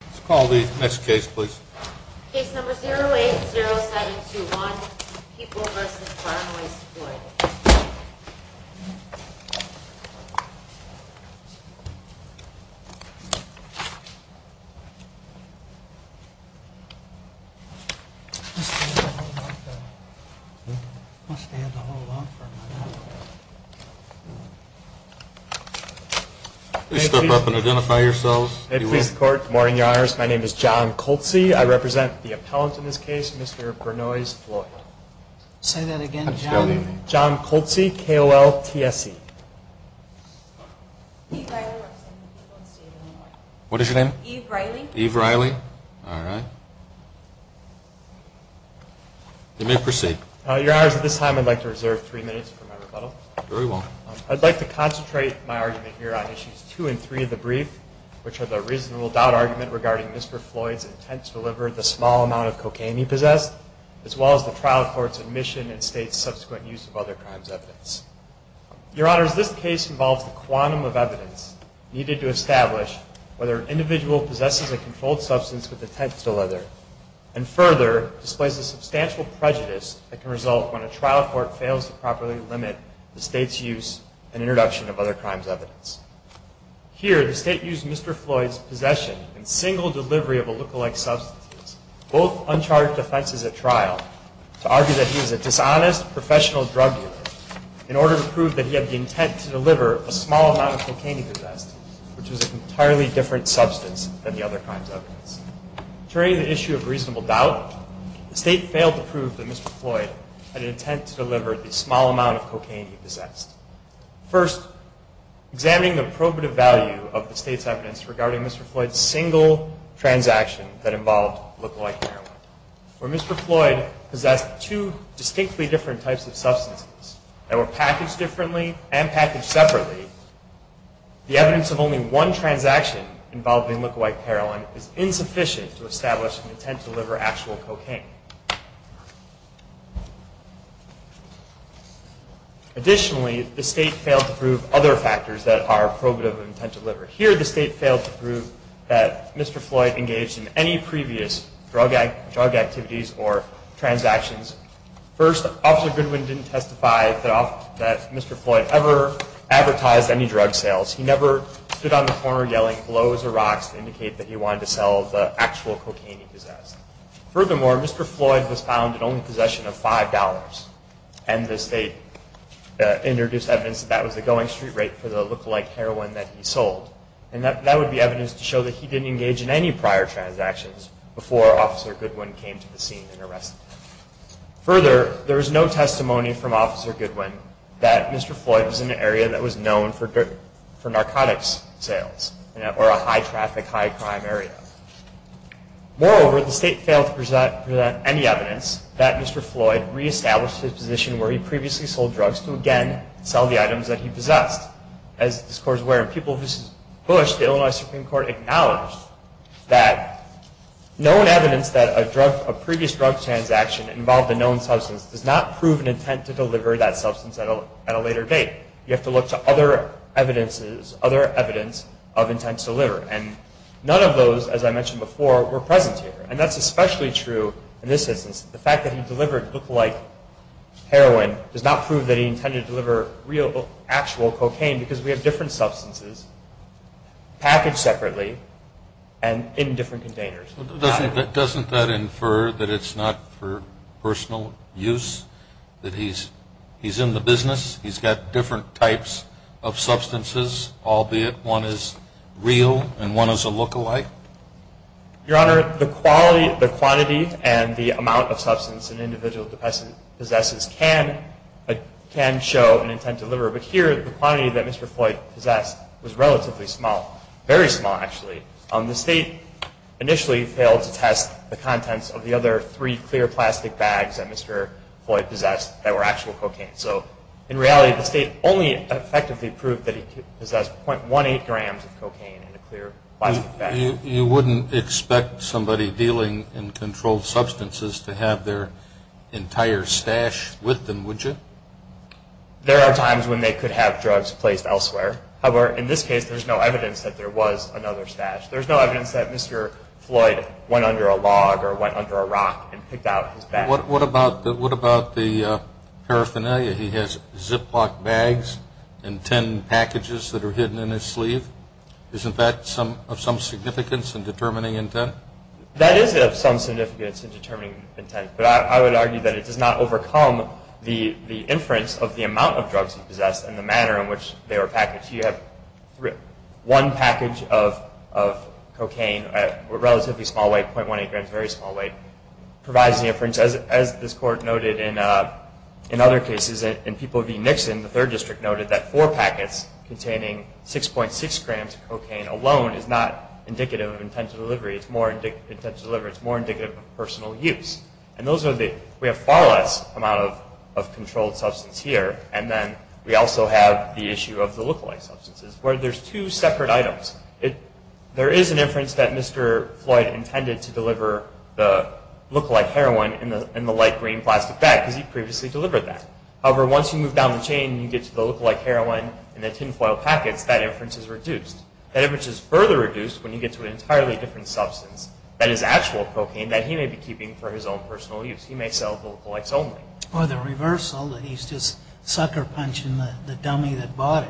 Let's call the next case, please. Case number 080721, People v. Farnley Floyd. Please stand and hold on for a minute. Please step up and identify yourselves. Good morning, Your Honors. My name is John Coltsy. I represent the appellant in this case, Mr. Bernois Floyd. Say that again, John. John Coltsy, K-O-L-T-S-E. Eve Riley, representing the people in the state of Illinois. What is your name? Eve Riley. Eve Riley. All right. You may proceed. Your Honors, at this time I'd like to reserve three minutes for my rebuttal. Very well. I'd like to concentrate my argument here on issues two and three of the brief, as well as the trial court's admission and state's subsequent use of other crimes evidence. Your Honors, this case involves the quantum of evidence needed to establish whether an individual possesses a controlled substance with attempts to leather and further displays a substantial prejudice that can result when a trial court fails to properly limit the state's use and introduction of other crimes evidence. Here, the state used Mr. Floyd's possession and single delivery of a lookalike substance, both uncharged offenses at trial, to argue that he was a dishonest professional drug dealer in order to prove that he had the intent to deliver a small amount of cocaine he possessed, which was an entirely different substance than the other crimes evidence. Carrying the issue of reasonable doubt, the state failed to prove that Mr. Floyd had an intent to deliver the small amount of cocaine he possessed. First, examining the probative value of the state's evidence regarding Mr. Floyd's single transaction that involved lookalike heroin. Where Mr. Floyd possessed two distinctly different types of substances that were packaged differently and packaged separately, the evidence of only one transaction involving lookalike heroin is insufficient to establish an intent to deliver actual cocaine. Additionally, the state failed to prove other factors that are probative of intent to deliver. Here, the state failed to prove that Mr. Floyd engaged in any previous drug activities or transactions. First, Officer Goodwin didn't testify that Mr. Floyd ever advertised any drug sales. He never stood on the corner yelling, blows or rocks to indicate that he wanted to sell the actual cocaine he possessed. Furthermore, Mr. Floyd was found in only possession of $5. And the state introduced evidence that that was the going street rate for the lookalike heroin that he sold. And that would be evidence to show that he didn't engage in any prior transactions before Officer Goodwin came to the scene and arrested him. Further, there was no testimony from Officer Goodwin that Mr. Floyd was in an area that was known for narcotics sales or a high-traffic, high-crime area. Moreover, the state failed to present any evidence that Mr. Floyd re-established his position where he previously sold drugs to, again, sell the items that he possessed. As the discourse were in People v. Bush, the Illinois Supreme Court acknowledged that known evidence that a previous drug transaction involved a known substance does not prove an intent to deliver that substance at a later date. You have to look to other evidences, other evidence of intent to deliver. And none of those, as I mentioned before, were present here. And that's especially true in this instance. The fact that he delivered lookalike heroin does not prove that he intended to deliver real, actual cocaine because we have different substances packaged separately and in different containers. Doesn't that infer that it's not for personal use, that he's in the business, he's got different types of substances, albeit one is real and one is a lookalike? Your Honor, the quantity and the amount of substance an individual possesses can show an intent to deliver. But here, the quantity that Mr. Floyd possessed was relatively small, very small, actually. The state initially failed to test the contents of the other three clear plastic bags that Mr. Floyd possessed that were actual cocaine. So in reality, the state only effectively proved that he possessed .18 grams of cocaine in a clear plastic bag. You wouldn't expect somebody dealing in controlled substances to have their entire stash with them, would you? There are times when they could have drugs placed elsewhere. However, in this case, there's no evidence that there was another stash. There's no evidence that Mr. Floyd went under a log or went under a rock and picked out his bag. What about the paraphernalia? He has Ziploc bags and tin packages that are hidden in his sleeve. Isn't that of some significance in determining intent? That is of some significance in determining intent, but I would argue that it does not overcome the inference of the amount of drugs he possessed and the manner in which they were packaged. You have one package of cocaine, relatively small weight, .18 grams, very small weight, provides the inference, as this Court noted in other cases, in people v. Nixon, the Third District noted that four packets containing 6.6 grams of cocaine alone is not indicative of intent to deliver. It's more indicative of personal use. And we have far less amount of controlled substance here, and then we also have the issue of the lookalike substances, where there's two separate items. There is an inference that Mr. Floyd intended to deliver the lookalike heroin in the light green plastic bag because he previously delivered that. However, once you move down the chain and you get to the lookalike heroin and the tinfoil packets, that inference is reduced. That inference is further reduced when you get to an entirely different substance that is actual cocaine that he may be keeping for his own personal use. He may sell the lookalikes only. Or the reversal, that he's just sucker punching the dummy that bought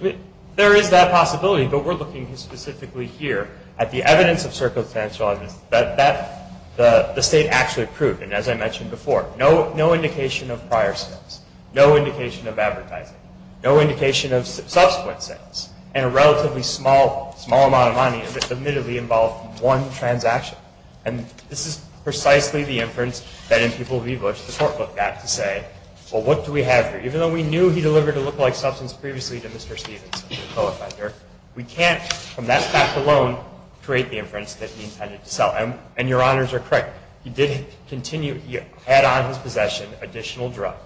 it. There is that possibility, but we're looking specifically here at the evidence of circumstantial evidence that the state actually proved. And as I mentioned before, no indication of prior sales. No indication of advertising. No indication of subsequent sales. And a relatively small amount of money that admittedly involved one transaction. And this is precisely the inference that in people v. Bush the Court looked at to say, well, what do we have here? Even though we knew he delivered a lookalike substance previously to Mr. Stevens, the co-offender, we can't, from that fact alone, create the inference that he intended to sell. And your honors are correct. He did continue, he had on his possession additional drugs.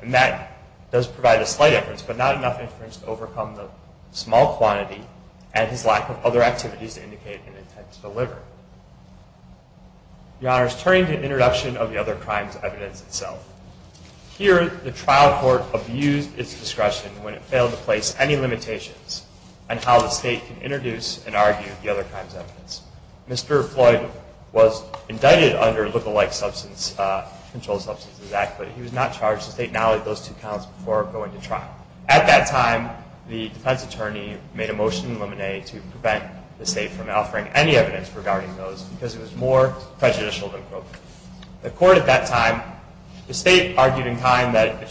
And that does provide a slight inference, but not enough inference to overcome the small quantity and his lack of other activities to indicate an intent to deliver. Your honors, turning to the introduction of the other crimes evidence itself. Here, the trial court abused its discretion when it failed to place any limitations on how the state can introduce and argue the other crimes evidence. Mr. Floyd was indicted under the Lookalike Substance Control Substances Act, but he was not charged. The state now let those two counts before going to trial. At that time, the defense attorney made a motion in limine to prevent the state from offering any evidence regarding those because it was more prejudicial than appropriate. The court at that time, the state argued in kind that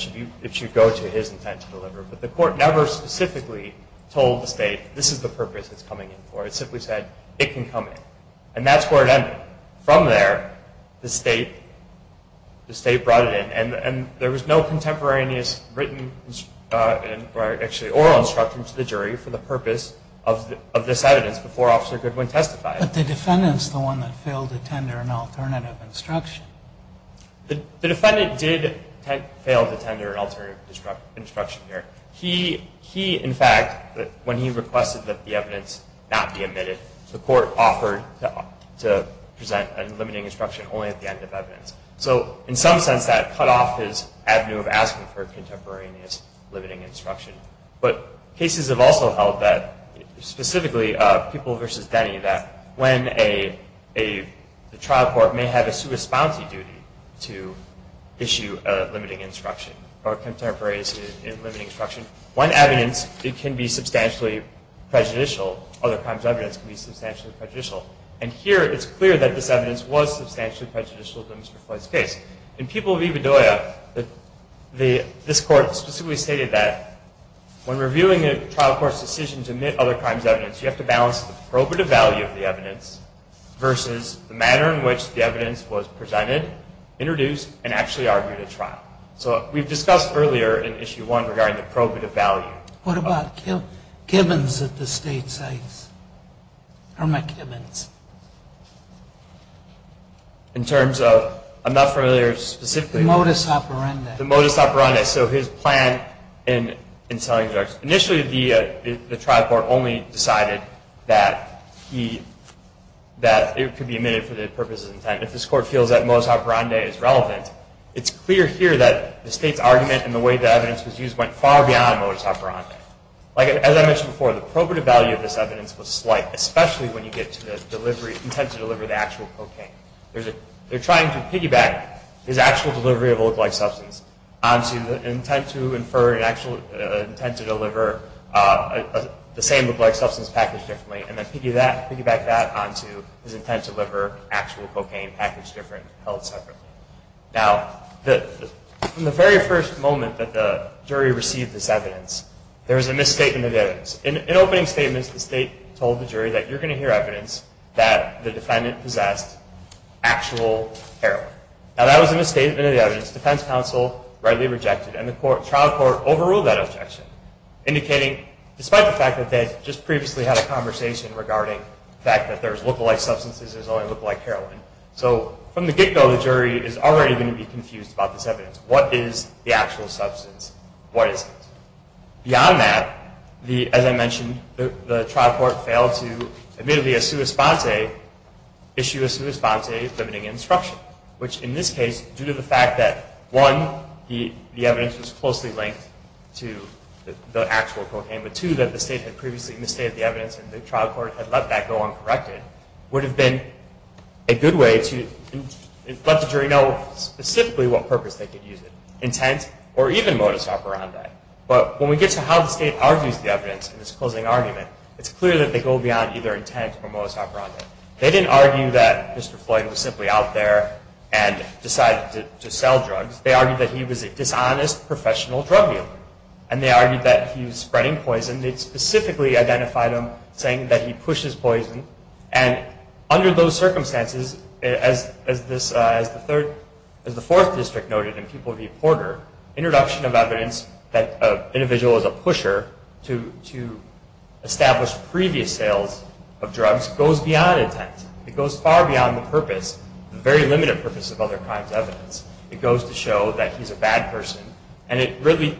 it should go to his intent to deliver, but the court never specifically told the state, this is the purpose it's coming in for. It simply said, it can come in. And that's where it ended. From there, the state brought it in. And there was no contemporaneous written, or actually oral instruction to the jury for the purpose of this evidence before Officer Goodwin testified. But the defendant's the one that failed to tender an alternative instruction. The defendant did fail to tender an alternative instruction here. He, in fact, when he requested that the evidence not be admitted, the court offered to present a limiting instruction only at the end of evidence. So in some sense, that cut off his avenue of asking for contemporaneous limiting instruction. But cases have also held that, specifically, People v. Denny, that when a trial court may have a sui sponte duty to issue a limiting instruction, or contemporaneous limiting instruction, one evidence, it can be substantially prejudicial. Other crimes' evidence can be substantially prejudicial. And here, it's clear that this evidence was substantially prejudicial to Mr. Floyd's case. In People v. Bedoya, this court specifically stated that, when reviewing a trial court's decision to admit other crimes' evidence, you have to balance the probative value of the evidence versus the manner in which the evidence was presented, introduced, and actually argued at trial. So we've discussed earlier in Issue 1 regarding the probative value. What about Kibbins at the state sites? How am I Kibbins? In terms of, I'm not familiar specifically. The modus operandi. The modus operandi. So his plan in selling drugs. Initially, the trial court only decided that it could be admitted for the purposes of intent. If this court feels that modus operandi is relevant, it's clear here that the state's argument and the way the evidence was used went far beyond modus operandi. Like, as I mentioned before, the probative value of this evidence was slight, especially when you get to the intent to deliver the actual cocaine. They're trying to piggyback his actual delivery of a lookalike substance onto the intent to infer an actual intent to deliver the same lookalike substance packaged differently, and then piggyback that onto his intent to deliver actual cocaine packaged differently, held separately. Now, from the very first moment that the jury received this evidence, there was a misstatement of evidence. In opening statements, the state told the jury that you're going to hear evidence that the defendant possessed actual heroin. Now, that was a misstatement of the evidence. Defense counsel rightly rejected it, and the trial court overruled that objection, indicating, despite the fact that they had just previously had a conversation regarding the fact that there's lookalike substances, there's only lookalike heroin. So from the get-go, the jury is already going to be confused about this evidence. What is the actual substance? What isn't? Beyond that, as I mentioned, the trial court failed to, admittedly, issue a sua sponsa limiting instruction, which in this case, due to the fact that, one, the evidence was closely linked to the actual cocaine, but two, that the state had previously misstated the evidence and the trial court had let that go uncorrected, would have been a good way to let the jury know specifically what purpose they could use it, intent or even modus operandi. But when we get to how the state argues the evidence in this closing argument, it's clear that they go beyond either intent or modus operandi. They didn't argue that Mr. Floyd was simply out there and decided to sell drugs. They argued that he was a dishonest professional drug dealer, and they argued that he was spreading poison. They specifically identified him, saying that he pushes poison, and under those circumstances, as the fourth district noted in People v. Porter, introduction of evidence that an individual is a pusher to establish previous sales of drugs goes beyond intent. It goes far beyond the purpose, the very limited purpose of other crimes' evidence. It goes to show that he's a bad person, and it really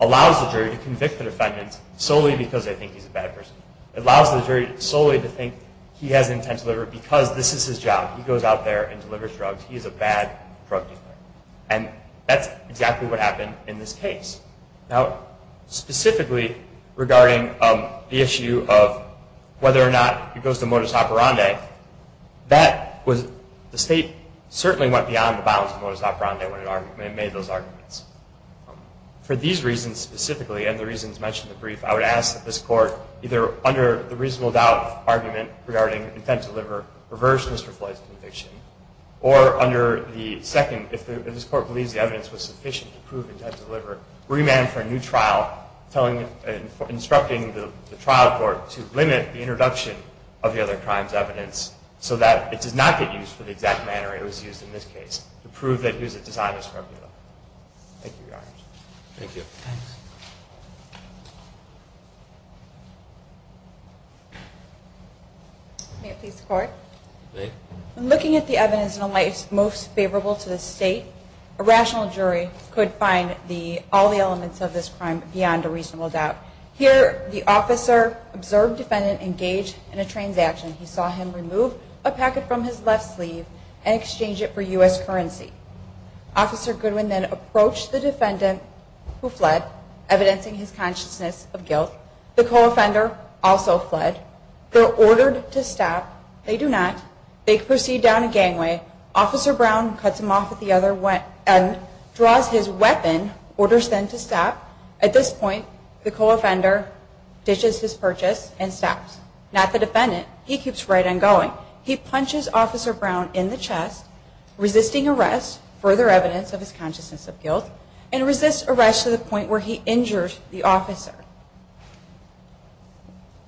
allows the jury to convict the defendant solely because they think he's a bad person. It allows the jury solely to think he has intent to deliver because this is his job. He goes out there and delivers drugs. He is a bad drug dealer, and that's exactly what happened in this case. Now, specifically regarding the issue of whether or not it goes to modus operandi, the state certainly went beyond the bounds of modus operandi when it made those arguments. I would ask that this Court, either under the reasonable doubt argument regarding intent to deliver, reverse Mr. Floyd's conviction, or under the second, if this Court believes the evidence was sufficient to prove intent to deliver, remand for a new trial, instructing the trial court to limit the introduction of the other crime's evidence so that it does not get used for the exact manner it was used in this case to prove that he was a dishonest drug dealer. Thank you, Your Honor. Thank you. May it please the Court? May it. When looking at the evidence in a light most favorable to the state, a rational jury could find all the elements of this crime beyond a reasonable doubt. Here, the officer observed defendant engage in a transaction. He saw him remove a packet from his left sleeve and exchange it for U.S. currency. Officer Goodwin then approached the defendant who fled, evidencing his consciousness of guilt. The co-offender also fled. They're ordered to stop. They do not. They proceed down a gangway. Officer Brown cuts him off at the other end, draws his weapon, orders them to stop. At this point, the co-offender ditches his purchase and stops. Not the defendant. He keeps right on going. He punches Officer Brown in the chest, resisting arrest, further evidence of his consciousness of guilt, and resists arrest to the point where he injures the officer.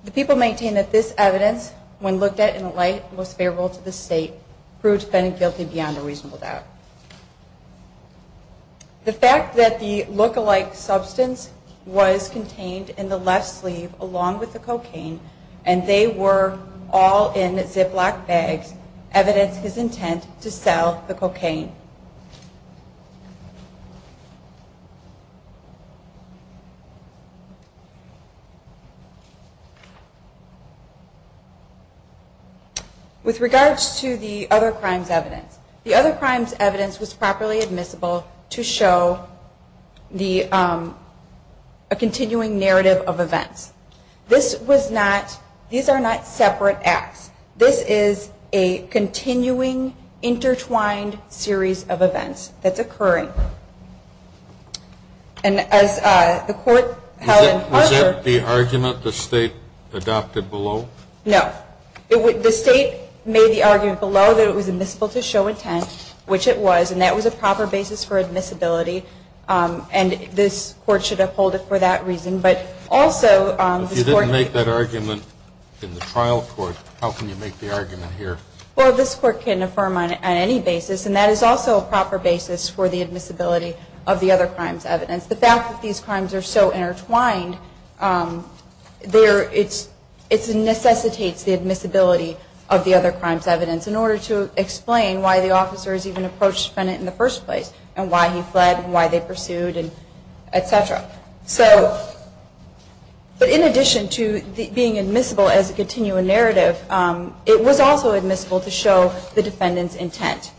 The people maintain that this evidence, when looked at in a light most favorable to the state, proves defendant guilty beyond a reasonable doubt. The fact that the lookalike substance was contained in the left sleeve along with the cocaine and they were all in Ziploc bags evidence his intent to sell the cocaine. With regards to the other crimes evidence, the other crimes evidence was properly admissible to show a continuing narrative of events. This was not, these are not separate acts. This is a continuing intertwined series of events that's occurring. And as the court held in Harvard. Was that the argument the state adopted below? No. The state made the argument below that it was admissible to show intent, which it was, and that was a proper basis for admissibility, and this court should uphold it for that reason. But also. If you didn't make that argument in the trial court, how can you make the argument here? Well, this court can affirm on any basis, and that is also a proper basis for the admissibility of the other crimes evidence. The fact that these crimes are so intertwined, it necessitates the admissibility of the other crimes evidence in order to explain why the officers even approached the defendant in the first place, and why he fled, and why they pursued, et cetera. So, but in addition to being admissible as a continuing narrative, it was also admissible to show the defendant's intent.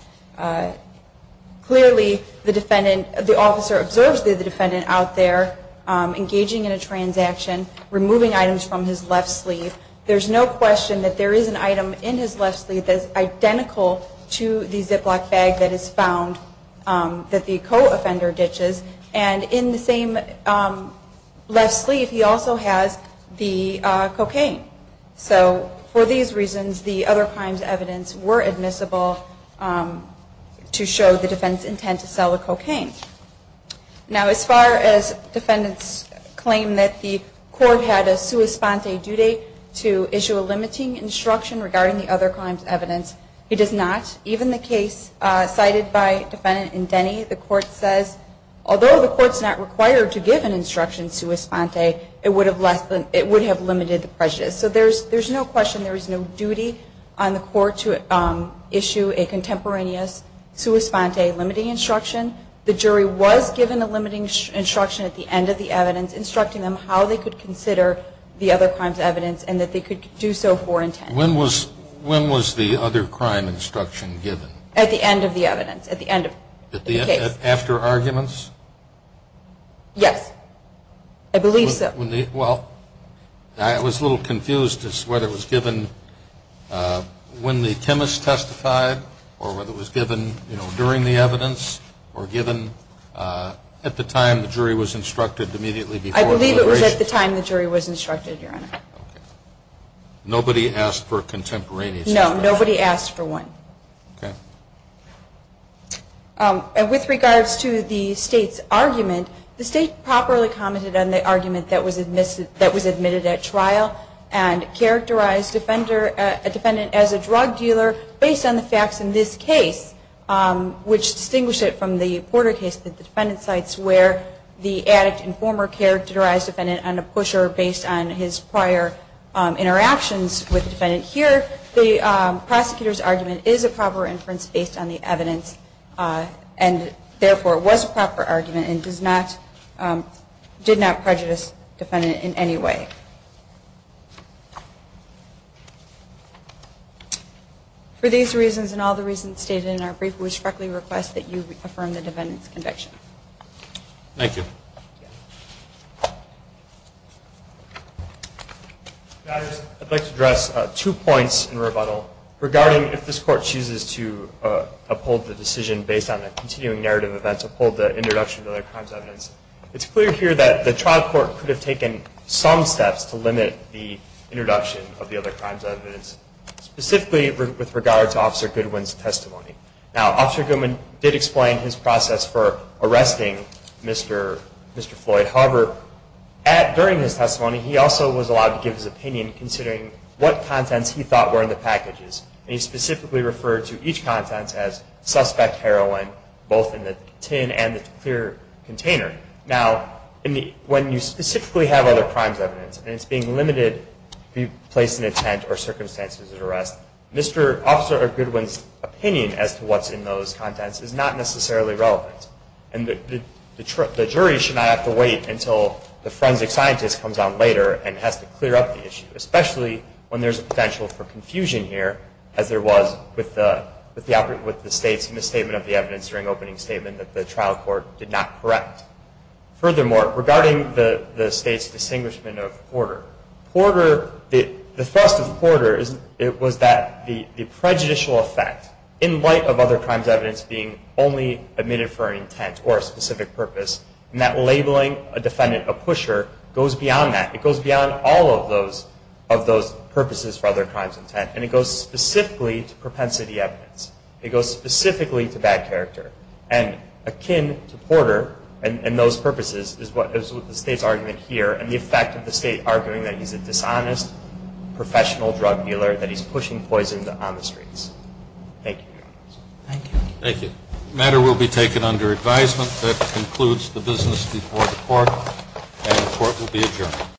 Clearly, the defendant, the officer observes the defendant out there engaging in a transaction, removing items from his left sleeve. There's no question that there is an item in his left sleeve that is identical to the Ziploc bag that is found, that the co-offender ditches, and in the same left sleeve, he also has the cocaine. So, for these reasons, the other crimes evidence were admissible to show the defendant's intent to sell the cocaine. Now, as far as defendants claim that the court had a sua sponte due date to issue a limiting instruction regarding the other crimes evidence, it does not. Even the case cited by Defendant Indeni, the court says, although the court's not required to give an instruction sua sponte, it would have limited the prejudice. So there's no question there is no duty on the court to issue a contemporaneous sua sponte limiting instruction. The jury was given a limiting instruction at the end of the evidence instructing them how they could consider the other crimes evidence, and that they could do so for intent. When was the other crime instruction given? At the end of the evidence. At the end of the case. After arguments? Yes. I believe so. Well, I was a little confused as to whether it was given when the chemist testified, or whether it was given, you know, during the evidence, or given at the time the jury was instructed immediately before. I believe it was at the time the jury was instructed, Your Honor. Nobody asked for a contemporaneous sua sponte? No, nobody asked for one. Okay. With regards to the State's argument, the State properly commented on the argument that was admitted at trial, and characterized a defendant as a drug dealer based on the facts in this case, which distinguish it from the Porter case that the Defendant cites, where the addict informer characterized the defendant on a pusher based on his prior interactions with the defendant. Here, the prosecutor's argument is a proper inference based on the evidence, and therefore was a proper argument and did not prejudice the defendant in any way. For these reasons and all the reasons stated in our brief, we respectfully request that you affirm the Defendant's conviction. Thank you. I'd like to address two points in rebuttal, regarding if this Court chooses to uphold the decision based on a continuing narrative event, uphold the introduction of other crimes evidence. It's clear here that the trial court could have taken some steps to limit the introduction of the other crimes evidence, specifically with regard to Officer Goodwin's testimony. Now, Officer Goodwin did explain his process for arresting Mr. Floyd. However, during his testimony, he also was allowed to give his opinion, considering what contents he thought were in the packages, and he specifically referred to each content as suspect heroin, both in the tin and the clear container. Now, when you specifically have other crimes evidence, and it's being limited to be placed in a tent or circumstances of arrest, Mr. Officer Goodwin's opinion as to what's in those contents is not necessarily relevant, and the jury should not have to wait until the forensic scientist comes on later and has to clear up the issue, especially when there's a potential for confusion here, as there was with the State's misstatement of the evidence during the opening statement that the trial court did not correct. Furthermore, regarding the State's distinguishment of Porter, the thrust of Porter was that the prejudicial effect, in light of other crimes evidence being only admitted for an intent or a specific purpose, and that labeling a defendant a pusher goes beyond that. It goes beyond all of those purposes for other crimes intent, and it goes specifically to propensity evidence. It goes specifically to bad character, and akin to Porter and those purposes is what the State's argument here, and the effect of the State arguing that he's a dishonest professional drug dealer, that he's pushing poison on the streets. Thank you. Thank you. The matter will be taken under advisement. That concludes the business before the court, and the court will be adjourned.